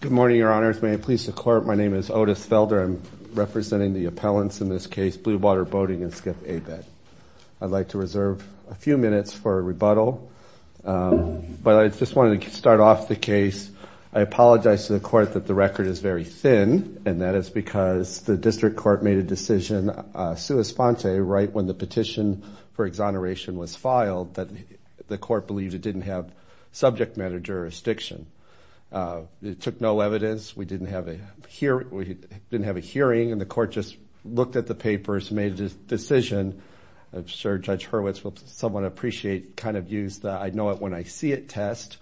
Good morning, Your Honors. May I please the Court? My name is Otis Felder. I'm representing the appellants in this case, Blue Water Boating, and Skip Abed. I'd like to reserve a few minutes for rebuttal, but I just wanted to start off the case. I apologize to the Court that the record is very thin, and that is because the District Court made a decision sua sponte right when the petition for exoneration was filed that the Court believed it didn't have subject matter jurisdiction. It took no evidence. We didn't have a hearing, and the Court just looked at the papers, made a decision. I'm sure Judge Hurwitz will somewhat appreciate kind of use the I know it when I see it test,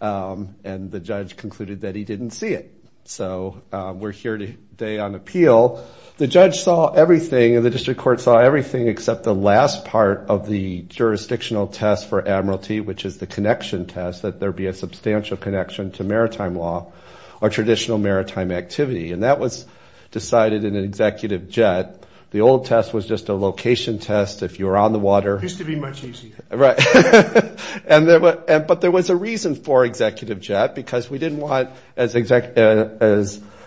and the Judge concluded that he didn't see it. So we're here today on appeal. The Judge saw everything, and the District Court saw everything except the last part of the jurisdictional test for admiralty, which is the connection test, that there be a substantial connection to maritime law or traditional maritime activity, and that was decided in an executive jet. The old test was just a location test if you were on the water. It used to be much easier. Right. But there was a reason for executive jet because we didn't want, as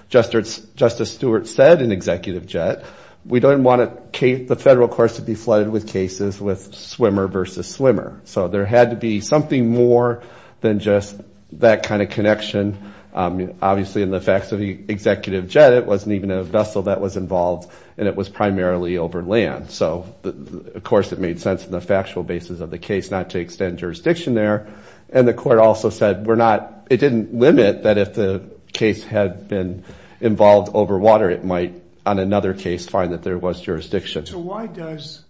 Justice Stewart said, an executive jet. We didn't want the federal courts to be flooded with cases with swimmer versus swimmer. So there had to be something more than just that kind of connection. Obviously in the facts of the executive jet, it wasn't even a vessel that was involved, and it was primarily over land. So of course it made sense in the factual basis of the case not to extend jurisdiction there, and the Court also said we're not, it didn't limit that if the case had been involved over water, it might on another case find that there was jurisdiction. So why does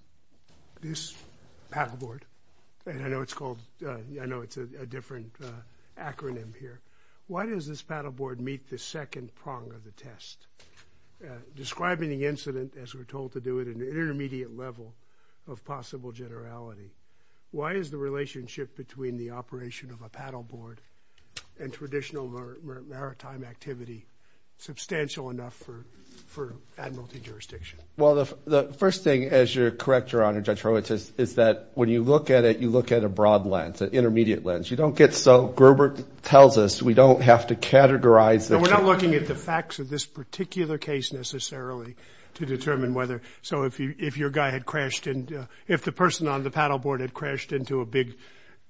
this paddleboard, and I know it's called, I know it's a different acronym here, why does this paddleboard meet the second prong of the test? Describing the incident as we're told to do it in an intermediate level of possible generality, why is the relationship between the operation of a paddleboard and traditional maritime activity substantial enough for admiralty jurisdiction? Well, the first thing, as you're correct, Your Honor, Judge Horwitz, is that when you look at it, you look at a broad lens, an intermediate lens. You don't get so, Gerber tells us, we don't have to categorize. No, we're not looking at the facts of this particular case necessarily to determine whether, so if your guy had crashed into, if the person on the paddleboard had crashed into a big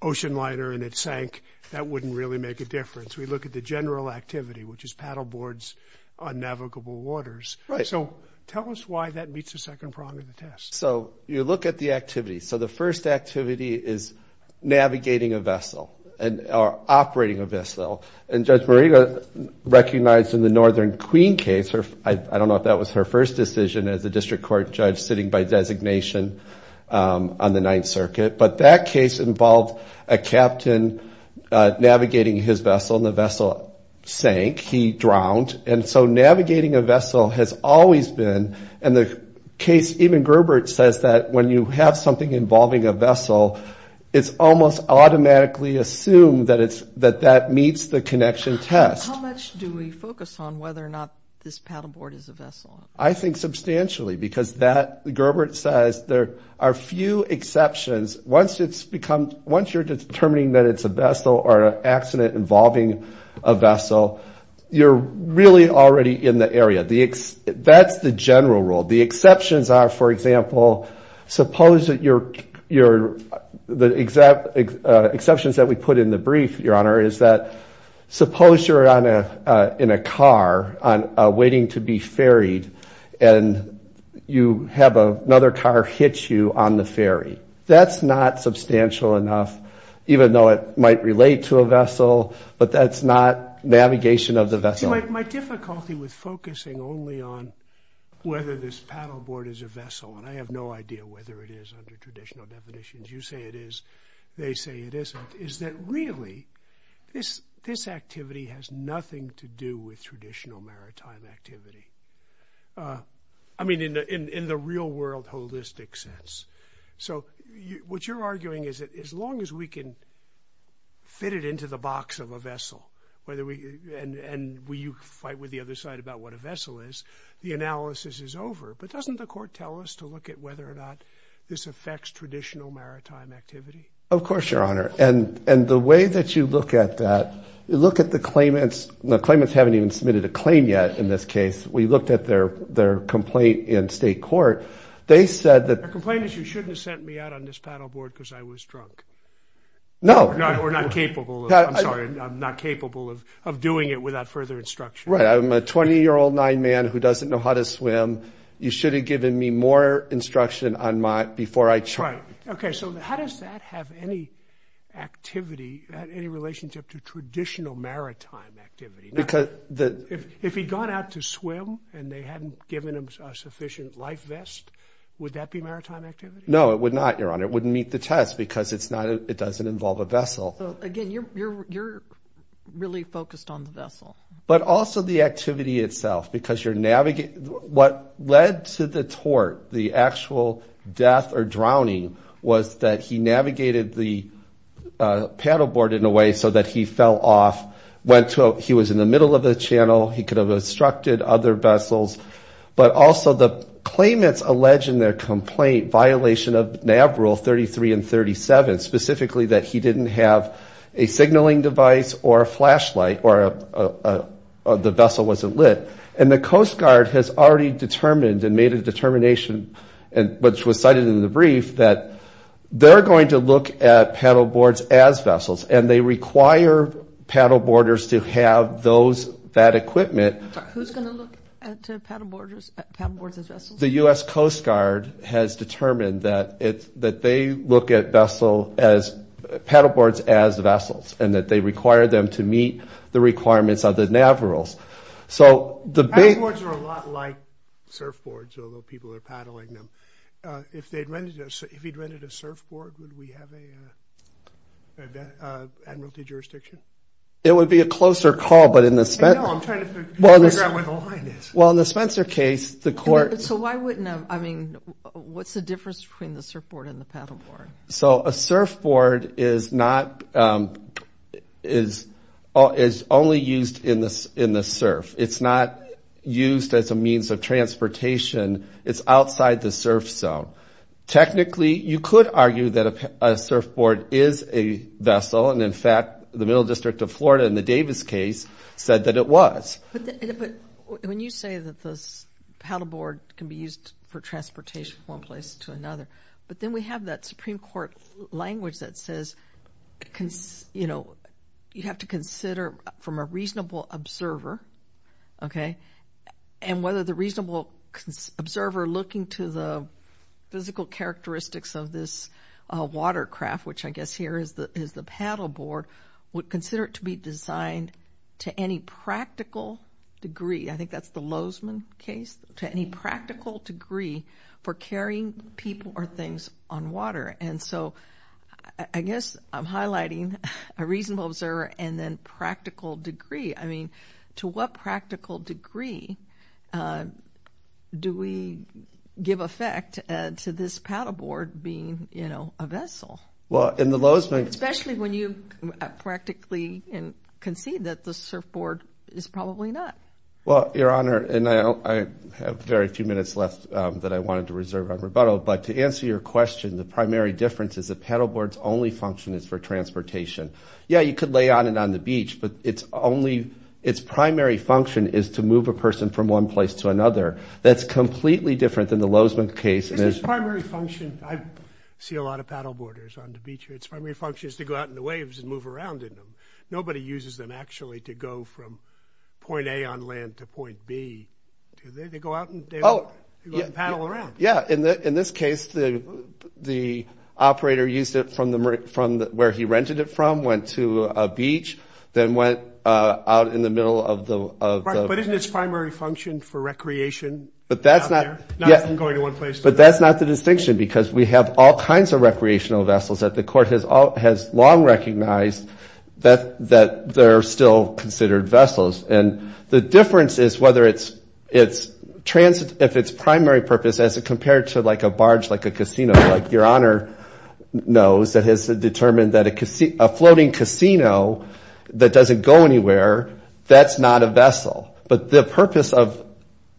ocean liner and it sank, that wouldn't really make a difference. We look at the general activity, which is paddleboards on navigable waters. So tell us why that meets the second prong of the test. So you look at the activity. So the first activity is navigating a vessel and operating a vessel. And Judge Morita recognized in the Northern Queen case, I don't know if that was her first decision as a district court judge sitting by designation on the Ninth Circuit, but that case involved a captain navigating his vessel and the vessel sank, he drowned. And so navigating a vessel has always been, and the case, even Gerbert says that when you have something involving a vessel, it's almost automatically assumed that it's, that that meets the connection test. How much do we focus on whether or not this paddleboard is a vessel? I think substantially because that, Gerbert says there are few exceptions. Once it's become, once you're determining that it's a vessel or an accident involving a vessel, you're really already in the area. That's the general rule. The exceptions are, for example, suppose that you're, the exceptions that we put in the brief, your honor, is that suppose you're on a, in a car waiting to be ferried and you have another car hit you on the ferry. That's not substantial enough, even though it might relate to a vessel, but that's not navigation of the vessel. My difficulty with focusing only on whether this paddleboard is a vessel, and I have no idea whether it is under traditional definitions, you say it is, they say it isn't, is that really this, this activity has nothing to do with traditional maritime activity? I mean in the, in the real world holistic sense. So you, what you're arguing is that as long as we can fit it into the box of a vessel, whether we, and, and we, you fight with the other side about what a vessel is, the analysis is over, but doesn't the court tell us to look at whether or not this affects traditional maritime activity? Of course, your honor. And, and the way that you look at that, you look at the claimants, the claimants haven't even submitted a claim yet in this case. We looked at their, their complaint in state court. They said that... Their complaint is you shouldn't have sent me out on this paddleboard because I was drunk. No. We're not capable of, I'm sorry, I'm not capable of, of doing it without further instruction. Right. I'm a 20 year old nine man who doesn't know how to swim. You should have given me more instruction on my, before I tried. Okay. So how does that have any activity, any relationship to traditional maritime activity? Because the, if, if he'd gone out to swim and they hadn't given him a sufficient life vest, would that be maritime activity? No, it would not, your honor. It wouldn't meet the test because it's not, it doesn't involve a vessel. Again, you're, you're, you're really focused on the vessel. But also the activity itself, because you're navigating, what led to the tort, the actual death or drowning was that he navigated the paddleboard in a way so that he fell off, went to, he was in the middle of the channel. He could have obstructed other vessels, but also the claimants alleged in their complaint violation of NAV rule 33 and 37, specifically that he didn't have a signaling device or a flashlight or a, the vessel wasn't lit. And the Coast Guard has already determined and made a determination, and which was cited in the brief that they're going to look at paddleboards as vessels and they require paddleboarders to have those, that equipment. Who's going to look at paddleboarders, paddleboards as vessels? The U.S. Coast Guard has determined that it's, that they look at vessel as, paddleboards as vessels, and that they require them to meet the requirements of the NAV rules. So the... Paddleboards are a lot like surfboards, although people are paddling them. If they'd rented, if he'd rented a surfboard, would we have a, an admiralty jurisdiction? It would be a closer call, but in the... I know, I'm trying to figure out where the line is. Well, in the Spencer case, the court... So why wouldn't, I mean, what's the difference between the surfboard and the paddleboard? So a surfboard is not, is, is only used in the, in the surf. It's not used as a means of transportation. It's outside the surf zone. Technically, you could argue that a surfboard is a vessel, and in fact, the Middle District of Florida, in the Davis case, said that it was. But when you say that the paddleboard can be used for transportation from one place to another, but then we have that Supreme Court language that says, you know, you have to consider from a reasonable observer, okay, and whether the reasonable observer looking to the physical characteristics of this watercraft, which I guess here is the, is the paddleboard, would consider it to be designed to any practical degree. I think that's the Lozman case, to any practical degree for carrying people or things on water. And so I guess I'm highlighting a reasonable observer and then practical degree. I mean, to what practical degree do we give effect to this paddleboard being, you know, a vessel? Well, in the Lozman... Especially when you practically concede that the surfboard is probably not. Well, Your Honor, and I have very few minutes left that I wanted to reserve on rebuttal, but to answer your question, the primary difference is the paddleboard's only function is for transportation. Yeah, you could lay on it on the beach, but it's only, its primary function is to move a person from one place to another. That's completely different than the Lozman case. Its primary function... I see a lot of paddleboarders on the beach here. Its primary function is to go out in the waves and move around in them. Nobody uses them actually to go from point A on land to point B. They go out and paddle around. Yeah. In this case, the operator used it from where he rented it from, went to a beach, then went out in the middle of the... But isn't its primary function for recreation? But that's not... Not from going to one place to another. But that's not the distinction because we have all kinds of recreational vessels that the court has long recognized that they're still considered vessels. And the difference is whether it's transit, if its primary purpose as it compared to like a barge, like a casino, like Your Honor knows that has determined that a floating casino that doesn't go anywhere, that's not a vessel. But the purpose of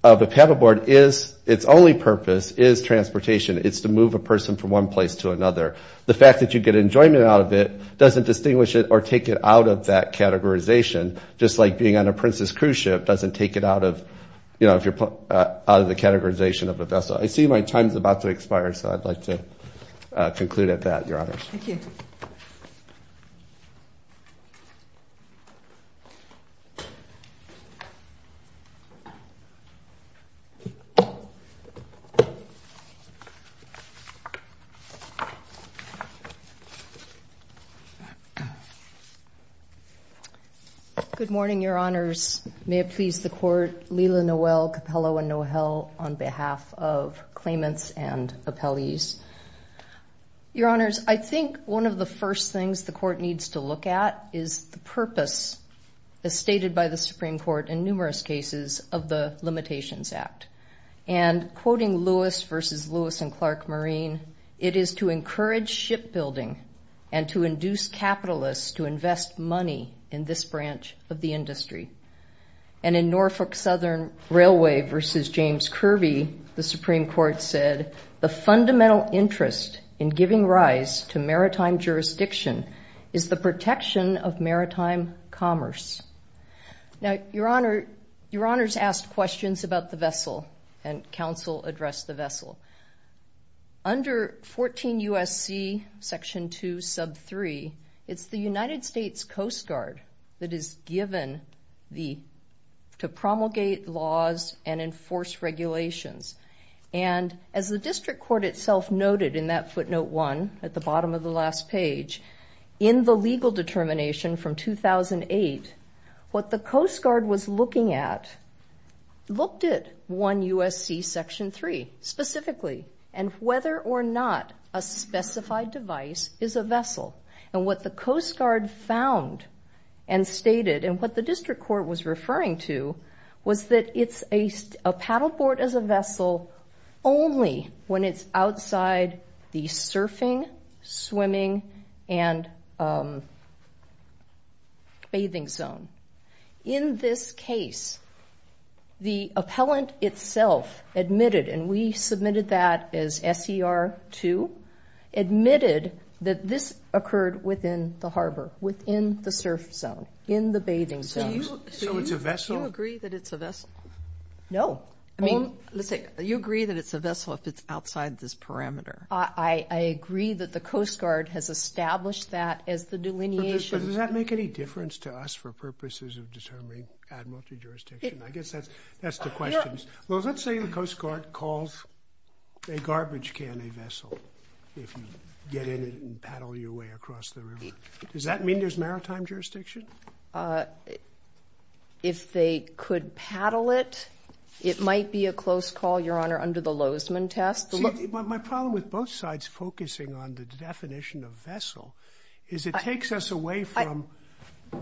a paddleboard is... Its only purpose is transportation. It's to move a person from one place to another. The fact that you get enjoyment out of it doesn't distinguish it or take it out of that categorization, just like being on a princess cruise ship doesn't take it out of the categorization of a vessel. I see my time is about to expire, so I'd like to conclude at that, Your Honor. Thank you. Good morning, Your Honors. May it please the court, Lila Noel, Capello, and Noel on behalf of claimants and appellees. Your Honors, I think one of the first things the court needs to look at is the purpose as stated by the Supreme Court in numerous cases of the Limitations Act. And quoting Lewis versus Lewis and Clark Marine, it is to encourage shipbuilding and to induce capitalists to invest money in this branch of the industry. And in Norfolk Southern Railway versus James Kirby, the Supreme Court said, the fundamental interest in giving rise to maritime jurisdiction is the protection of maritime commerce. Now, Your Honor, Your Honors asked questions about the vessel and counsel addressed the vessel. Under 14 U.S.C. section 2 sub 3, it's the United States Coast Guard that is given to promulgate laws and enforce regulations. And as the district court itself noted in that footnote 1 at the bottom of the last page, in the legal determination from 2008, what the Coast Guard was looking at looked at 1 U.S.C. 3 specifically, and whether or not a specified device is a vessel. And what the Coast Guard found and stated and what the district court was referring to was that it's a paddleboard as a vessel only when it's outside the surfing, swimming, and bathing zone. In this case, the appellant itself admitted, and we submitted that as SER 2, admitted that this occurred within the harbor, within the surf zone, in the bathing zone. So it's a vessel? Do you agree that it's a vessel? No. I mean, let's say you agree that it's a vessel if it's outside this parameter. I agree that the Coast Guard has established that as the delineation. But does that make any difference to us for purposes of determining admiralty jurisdiction? I guess that's the question. Well, let's say the Coast Guard calls a garbage can a vessel if you get in it and paddle your way across the river. Does that mean there's maritime jurisdiction? If they could paddle it, it might be a close call, Your Honor, under the Lozman test. See, my problem with both sides focusing on the definition of vessel is it takes us away from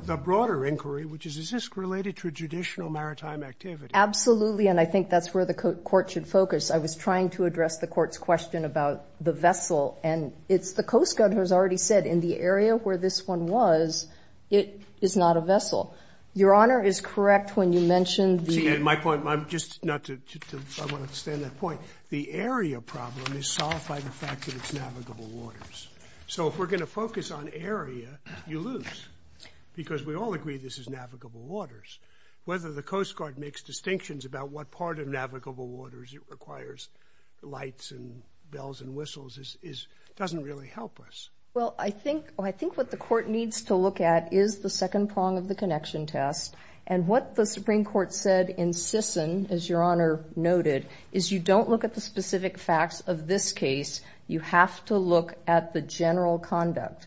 the broader inquiry, which is, is this related to a judicial maritime activity? Absolutely, and I think that's where the court should focus. I was trying to address the court's question about the vessel, and it's the Coast Guard who's already said in the area where this one was, it is not a vessel. Your Honor is correct when you mentioned the... See, and my point, I'm just, not to, I want to extend that point, the area problem is solved by the fact that it's navigable waters. So if we're going to focus on area, you lose, because we all agree this is navigable waters. Whether the Coast Guard makes distinctions about what part of navigable waters it requires, lights and bells and whistles, doesn't really help us. Well, I think what the court needs to look at is the second prong of the connection test, and what the Supreme Court said in Sisson, as Your Honor noted, is you don't look at the specific facts of this case, you have to look at the general conduct.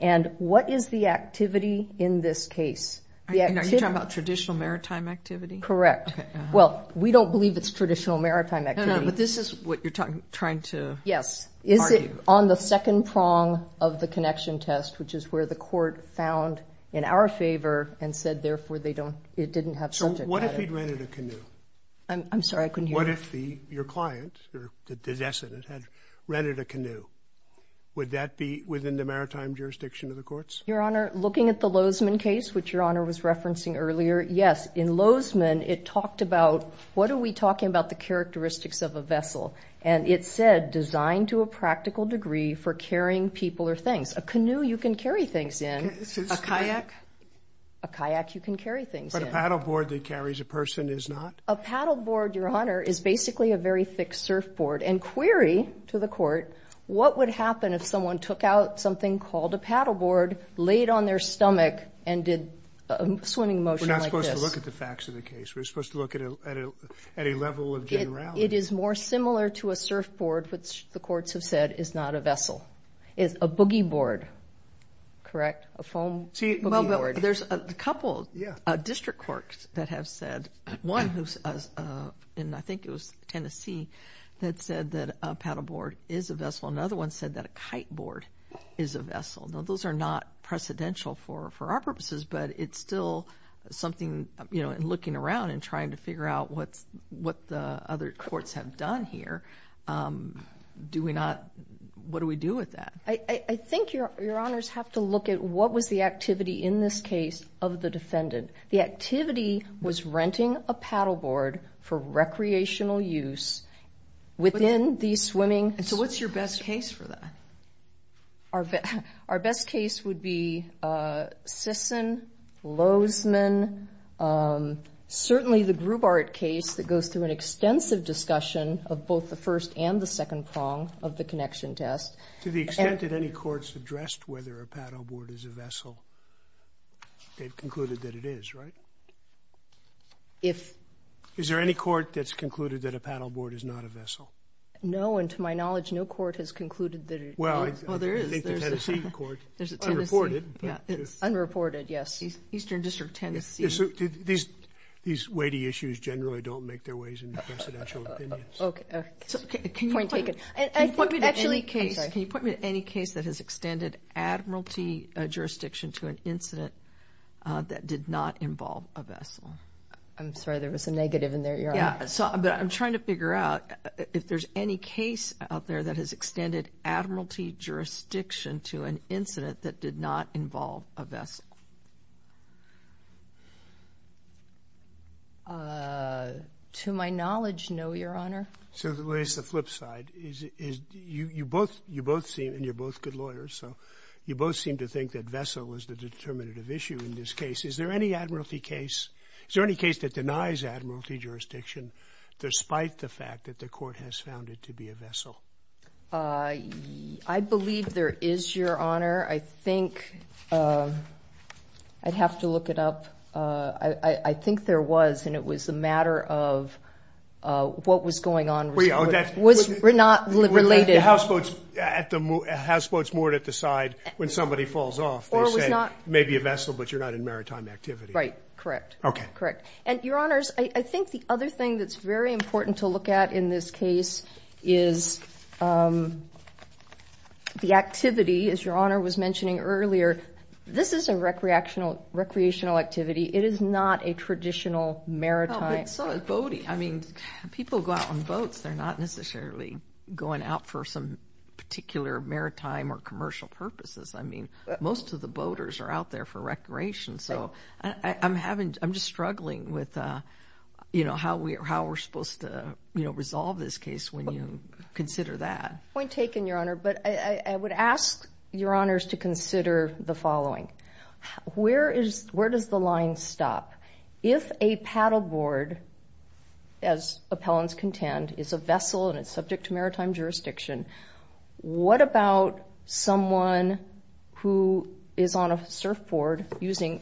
And what is the activity in this case? Are you talking about traditional maritime activity? Correct. Well, we don't believe it's traditional maritime activity. No, no, but this is what you're trying to argue. Yes. Is it on the second prong of the connection test, which is where the court found in our favor and said, therefore, they don't, it didn't have... What if he'd rented a canoe? I'm sorry, I couldn't hear you. What if your client, or the decedent, had rented a canoe? Would that be within the maritime jurisdiction of the courts? Your Honor, looking at the Lozman case, which Your Honor was referencing earlier, yes. In Lozman, it talked about, what are we talking about the characteristics of a vessel? And it said, designed to a practical degree for carrying people or things. A canoe, you can carry things in. A kayak? A kayak, you can carry things in. But a paddleboard that carries a person is not? A paddleboard, Your Honor, is basically a very thick surfboard. And query to the court, what would happen if someone took out something called a paddleboard, laid on their stomach, and did a swimming motion like this? We're not supposed to look at the facts of the case. We're supposed to look at a level of generality. It is more similar to a surfboard, which the courts have said is not a vessel. It's a boogie board, correct? A foam boogie board. Well, but there's a couple of district courts that have said, one who's in, I think it was Tennessee, that said that a paddleboard is a vessel. Another one said that a kite board is a vessel. Now, those are not precedential for our purposes, but it's still something, you know, in looking around and trying to figure out what the other courts have done here. Do we not, what do we do with that? I think Your Honors have to look at what was the activity in this case of the defendant. The activity was renting a paddleboard for recreational use within the swimming. And so what's your best case for that? Our best case would be Sisson, Lozman, certainly the Grubart case that goes through an extensive discussion of both the first and the second prong of the connection test. To the extent that any courts addressed whether a paddleboard is a vessel, they've concluded that it is, right? Is there any court that's concluded that a paddleboard is not a vessel? No, and to my knowledge, no court has concluded that it is. Well, I think the Tennessee court, unreported, yes. Eastern District of Tennessee. These weighty issues generally don't make their ways in the precedential opinions. Okay, point taken. Can you point me to any case that has extended admiralty jurisdiction to an incident that did not involve a vessel? I'm sorry, there was a negative in there. Yeah, but I'm trying to figure out if there's any case out to an incident that did not involve a vessel. To my knowledge, no, Your Honor. So the way it's the flip side is you both seem, and you're both good lawyers, so you both seem to think that vessel was the determinative issue in this case. Is there any admiralty case, is there any case that denies admiralty jurisdiction despite the fact that the court has found it to be a vessel? I believe there is, Your Honor. I think I'd have to look it up. I think there was, and it was a matter of what was going on. We're not related. The houseboat's moored at the side when somebody falls off. They say, maybe a vessel, but you're not in maritime activity. Correct, correct. Your Honors, I think the other thing that's very important to look at in this case is the activity, as Your Honor was mentioning earlier. This is a recreational activity. It is not a traditional maritime activity. But so is boating. People go out on boats. They're not necessarily going out for some particular maritime or commercial purposes. Most of the time, I'm just struggling with how we're supposed to resolve this case when you consider that. Point taken, Your Honor. But I would ask Your Honors to consider the following. Where does the line stop? If a paddleboard, as appellants contend, is a vessel and it's subject to maritime activity, how do you paddle those hand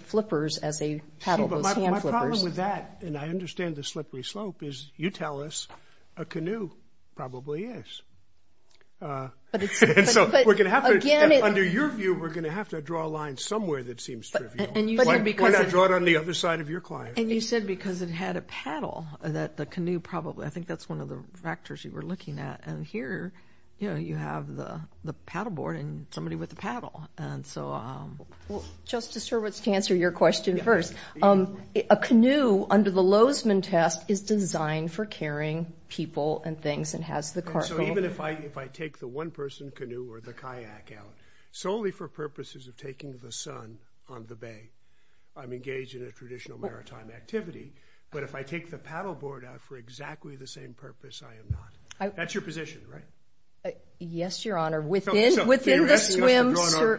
flippers? My problem with that, and I understand the slippery slope, is you tell us a canoe probably is. Under your view, we're going to have to draw a line somewhere that seems trivial. Why not draw it on the other side of your client? You said because it had a paddle, that the canoe probably, I think that's one of the factors you were looking at. Here, you have the paddleboard and somebody with the paddle. And so... Justice Hurwitz, to answer your question first, a canoe under the Lozman test is designed for carrying people and things and has the cart. So even if I take the one-person canoe or the kayak out solely for purposes of taking the sun on the bay, I'm engaged in a traditional maritime activity. But if I take the paddleboard out for exactly the same purpose, I am not. That's your position, right? Yes, Your Honor. Within the swim...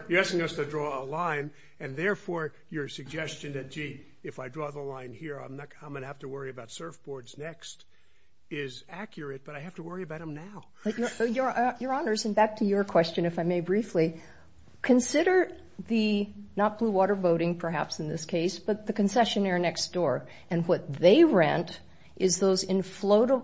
You're asking us to draw a line, and therefore, your suggestion that, gee, if I draw the line here, I'm going to have to worry about surfboards next, is accurate, but I have to worry about them now. Your Honors, and back to your question, if I may briefly, consider the – not blue water boating, perhaps, in this case, but the concessionaire next door. And what they rent is those inflatable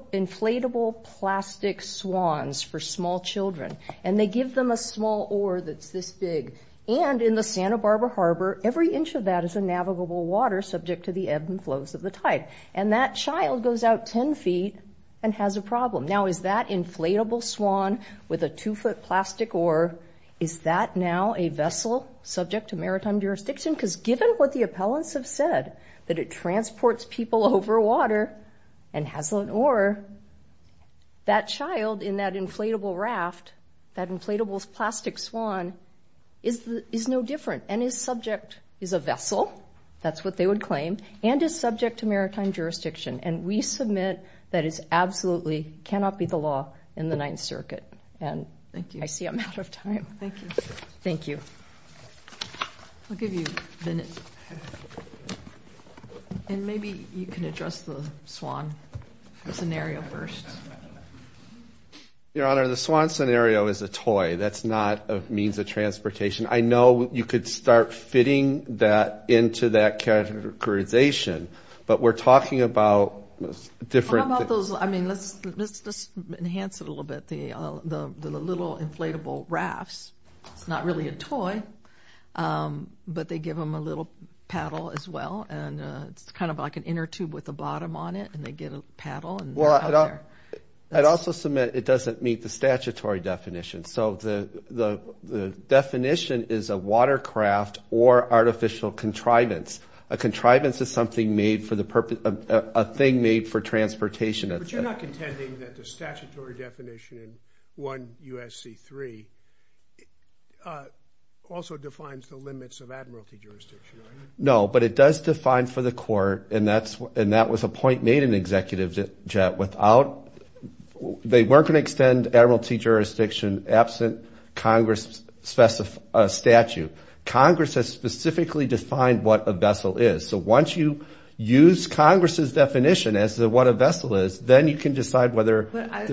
plastic swans for small children. And they give them a small oar that's this big. And in the Santa Barbara Harbor, every inch of that is a navigable water subject to the ebbs and flows of the tide. And that child goes out 10 feet and has a problem. Now, is that inflatable swan with a two-foot plastic oar, is that now a vessel subject to maritime jurisdiction? Because given what the appellants have said, that it transports people over water and has an oar, that child in that inflatable raft, that inflatable plastic swan, is no different and is subject – is a vessel, that's what they would claim – and is subject to maritime jurisdiction. And we submit that it absolutely cannot be the law in the Ninth Circuit. And I see I'm out of time. Thank you. Thank you. I'll give you a minute. And maybe you can address the swan scenario first. Your Honor, the swan scenario is a toy. That's not a means of transportation. I know you could start fitting that into that characterization, but we're talking about different – How about those – I mean, let's enhance it a little bit, the little inflatable rafts. It's not really a toy, but they give them a little paddle as well, and it's kind of like an inner tube with a bottom on it, and they get a paddle and they're out there. I'd also submit it doesn't meet the statutory definition. So the definition is a watercraft or artificial contrivance. A contrivance is something made for the purpose – a thing made for transportation. But you're not contending that the statutory definition in 1 U.S.C. 3 also defines the limits of admiralty jurisdiction, are you? No, but it does define for the court, and that was a point made in Executive Jet without – they weren't going to extend admiralty jurisdiction absent Congress' statute. Congress has specifically defined what a vessel is. So once you use Congress' definition as to what a vessel is, then you can decide whether – But I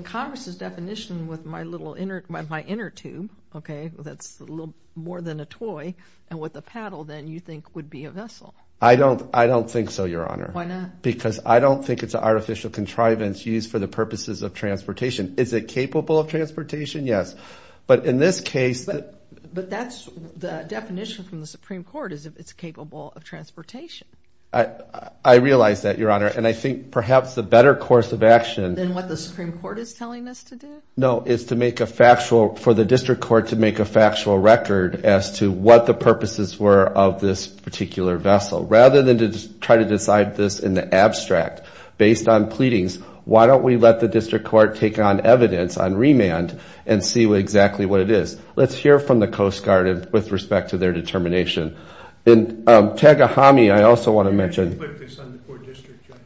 – Congress' definition with my little inner – my inner tube, okay, that's a little more than a toy, and with a paddle then you think would be a vessel. I don't – I don't think so, Your Honor. Why not? Because I don't think it's an artificial contrivance used for the purposes of transportation. Is it capable of transportation? Yes. But in this case – But that's – the definition from the Supreme Court is it's capable of transportation. I realize that, Your Honor, and I think perhaps the better course of action – Than what the Supreme Court is telling us to do? No, it's to make a factual – for the district court to make a factual record as to what the purposes were of this particular vessel. Rather than to try to decide this in the abstract based on pleadings, why don't we let the district court take on evidence on remand and see exactly what it is. Let's hear from the Coast Guard with respect to their determination. And Tagahami, I also want to mention – You can't just put this on the court district judge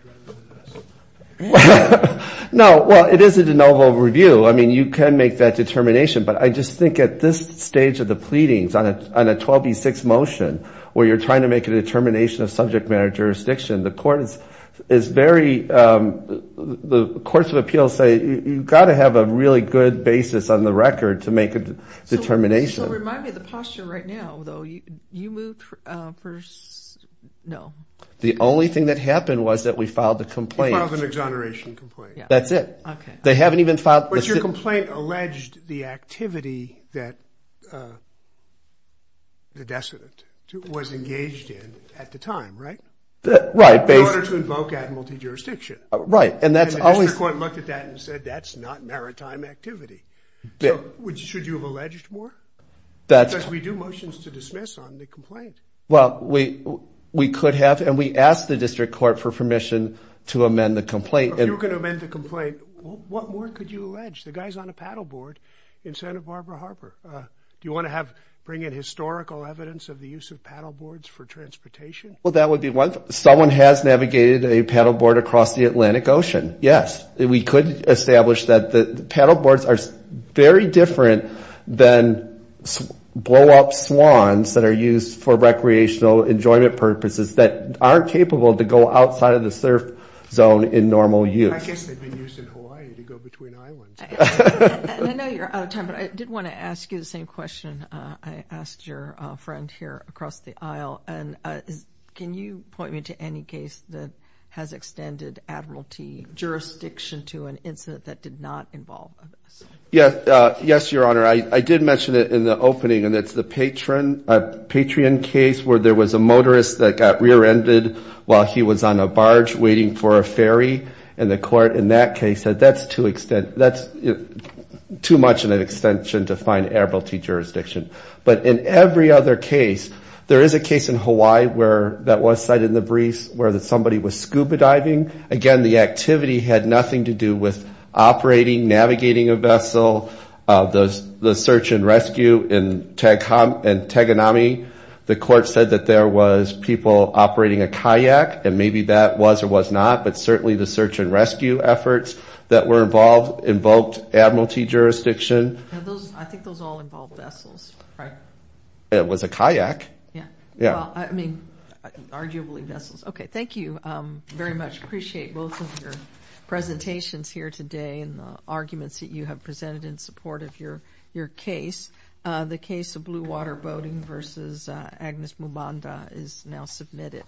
rather than this. No, well, it is a de novo review. I mean, you can make that determination, but I just think at this stage of the pleadings on a 12b6 motion where you're trying to make a determination of subject matter jurisdiction, the court is very – the courts of appeals say you've got to have a really good basis on the record to make a determination. This will remind me of the posture right now, though. You moved for – no. The only thing that happened was that we filed the complaint. You filed an exoneration complaint. That's it. Okay. They haven't even filed – But your complaint alleged the activity that the decedent was engaged in at the time, right? Right. In order to invoke admiralty jurisdiction. Right. And that's always – And the district court looked at that and said that's not maritime activity. Bill, should you have alleged more? That's – Because we do motions to dismiss on the complaint. Well, we could have, and we asked the district court for permission to amend the complaint. If you were going to amend the complaint, what more could you allege? The guy's on a paddleboard in Santa Barbara Harbor. Do you want to have – bring in historical evidence of the use of paddleboards for transportation? Well, that would be one – someone has navigated a paddleboard across the Atlantic Ocean, yes. We could establish that the paddleboards are very different than blow-up swans that are used for recreational enjoyment purposes that aren't capable to go outside of the surf zone in normal use. I guess they'd be used in Hawaii to go between islands. I know you're out of time, but I did want to ask you the same question. I asked your friend here across the aisle, and can you point me to any case that has extended admiralty jurisdiction to an incident that did not involve this? Yes, Your Honor. I did mention it in the opening, and it's the Patrion case where there was a motorist that got rear-ended while he was on a barge waiting for a ferry, and the court in that case said that's too much of an extension to find admiralty jurisdiction. But in every other case, there is a case in Hawaii that was cited in the briefs where somebody was scuba diving. Again, the activity had nothing to do with operating, navigating a vessel. The search and rescue in Taganami, the court said that there was people operating a kayak, and maybe that was or was not, but certainly the search and rescue efforts that were involved invoked admiralty jurisdiction. I think those all involved vessels, right? It was a kayak. Yeah, well, I mean, arguably vessels. Okay, thank you very much. Appreciate both of your presentations here today and the arguments that you have presented in support of your your case. The case of Blue Water Boating versus Agnes Mubanda is now submitted.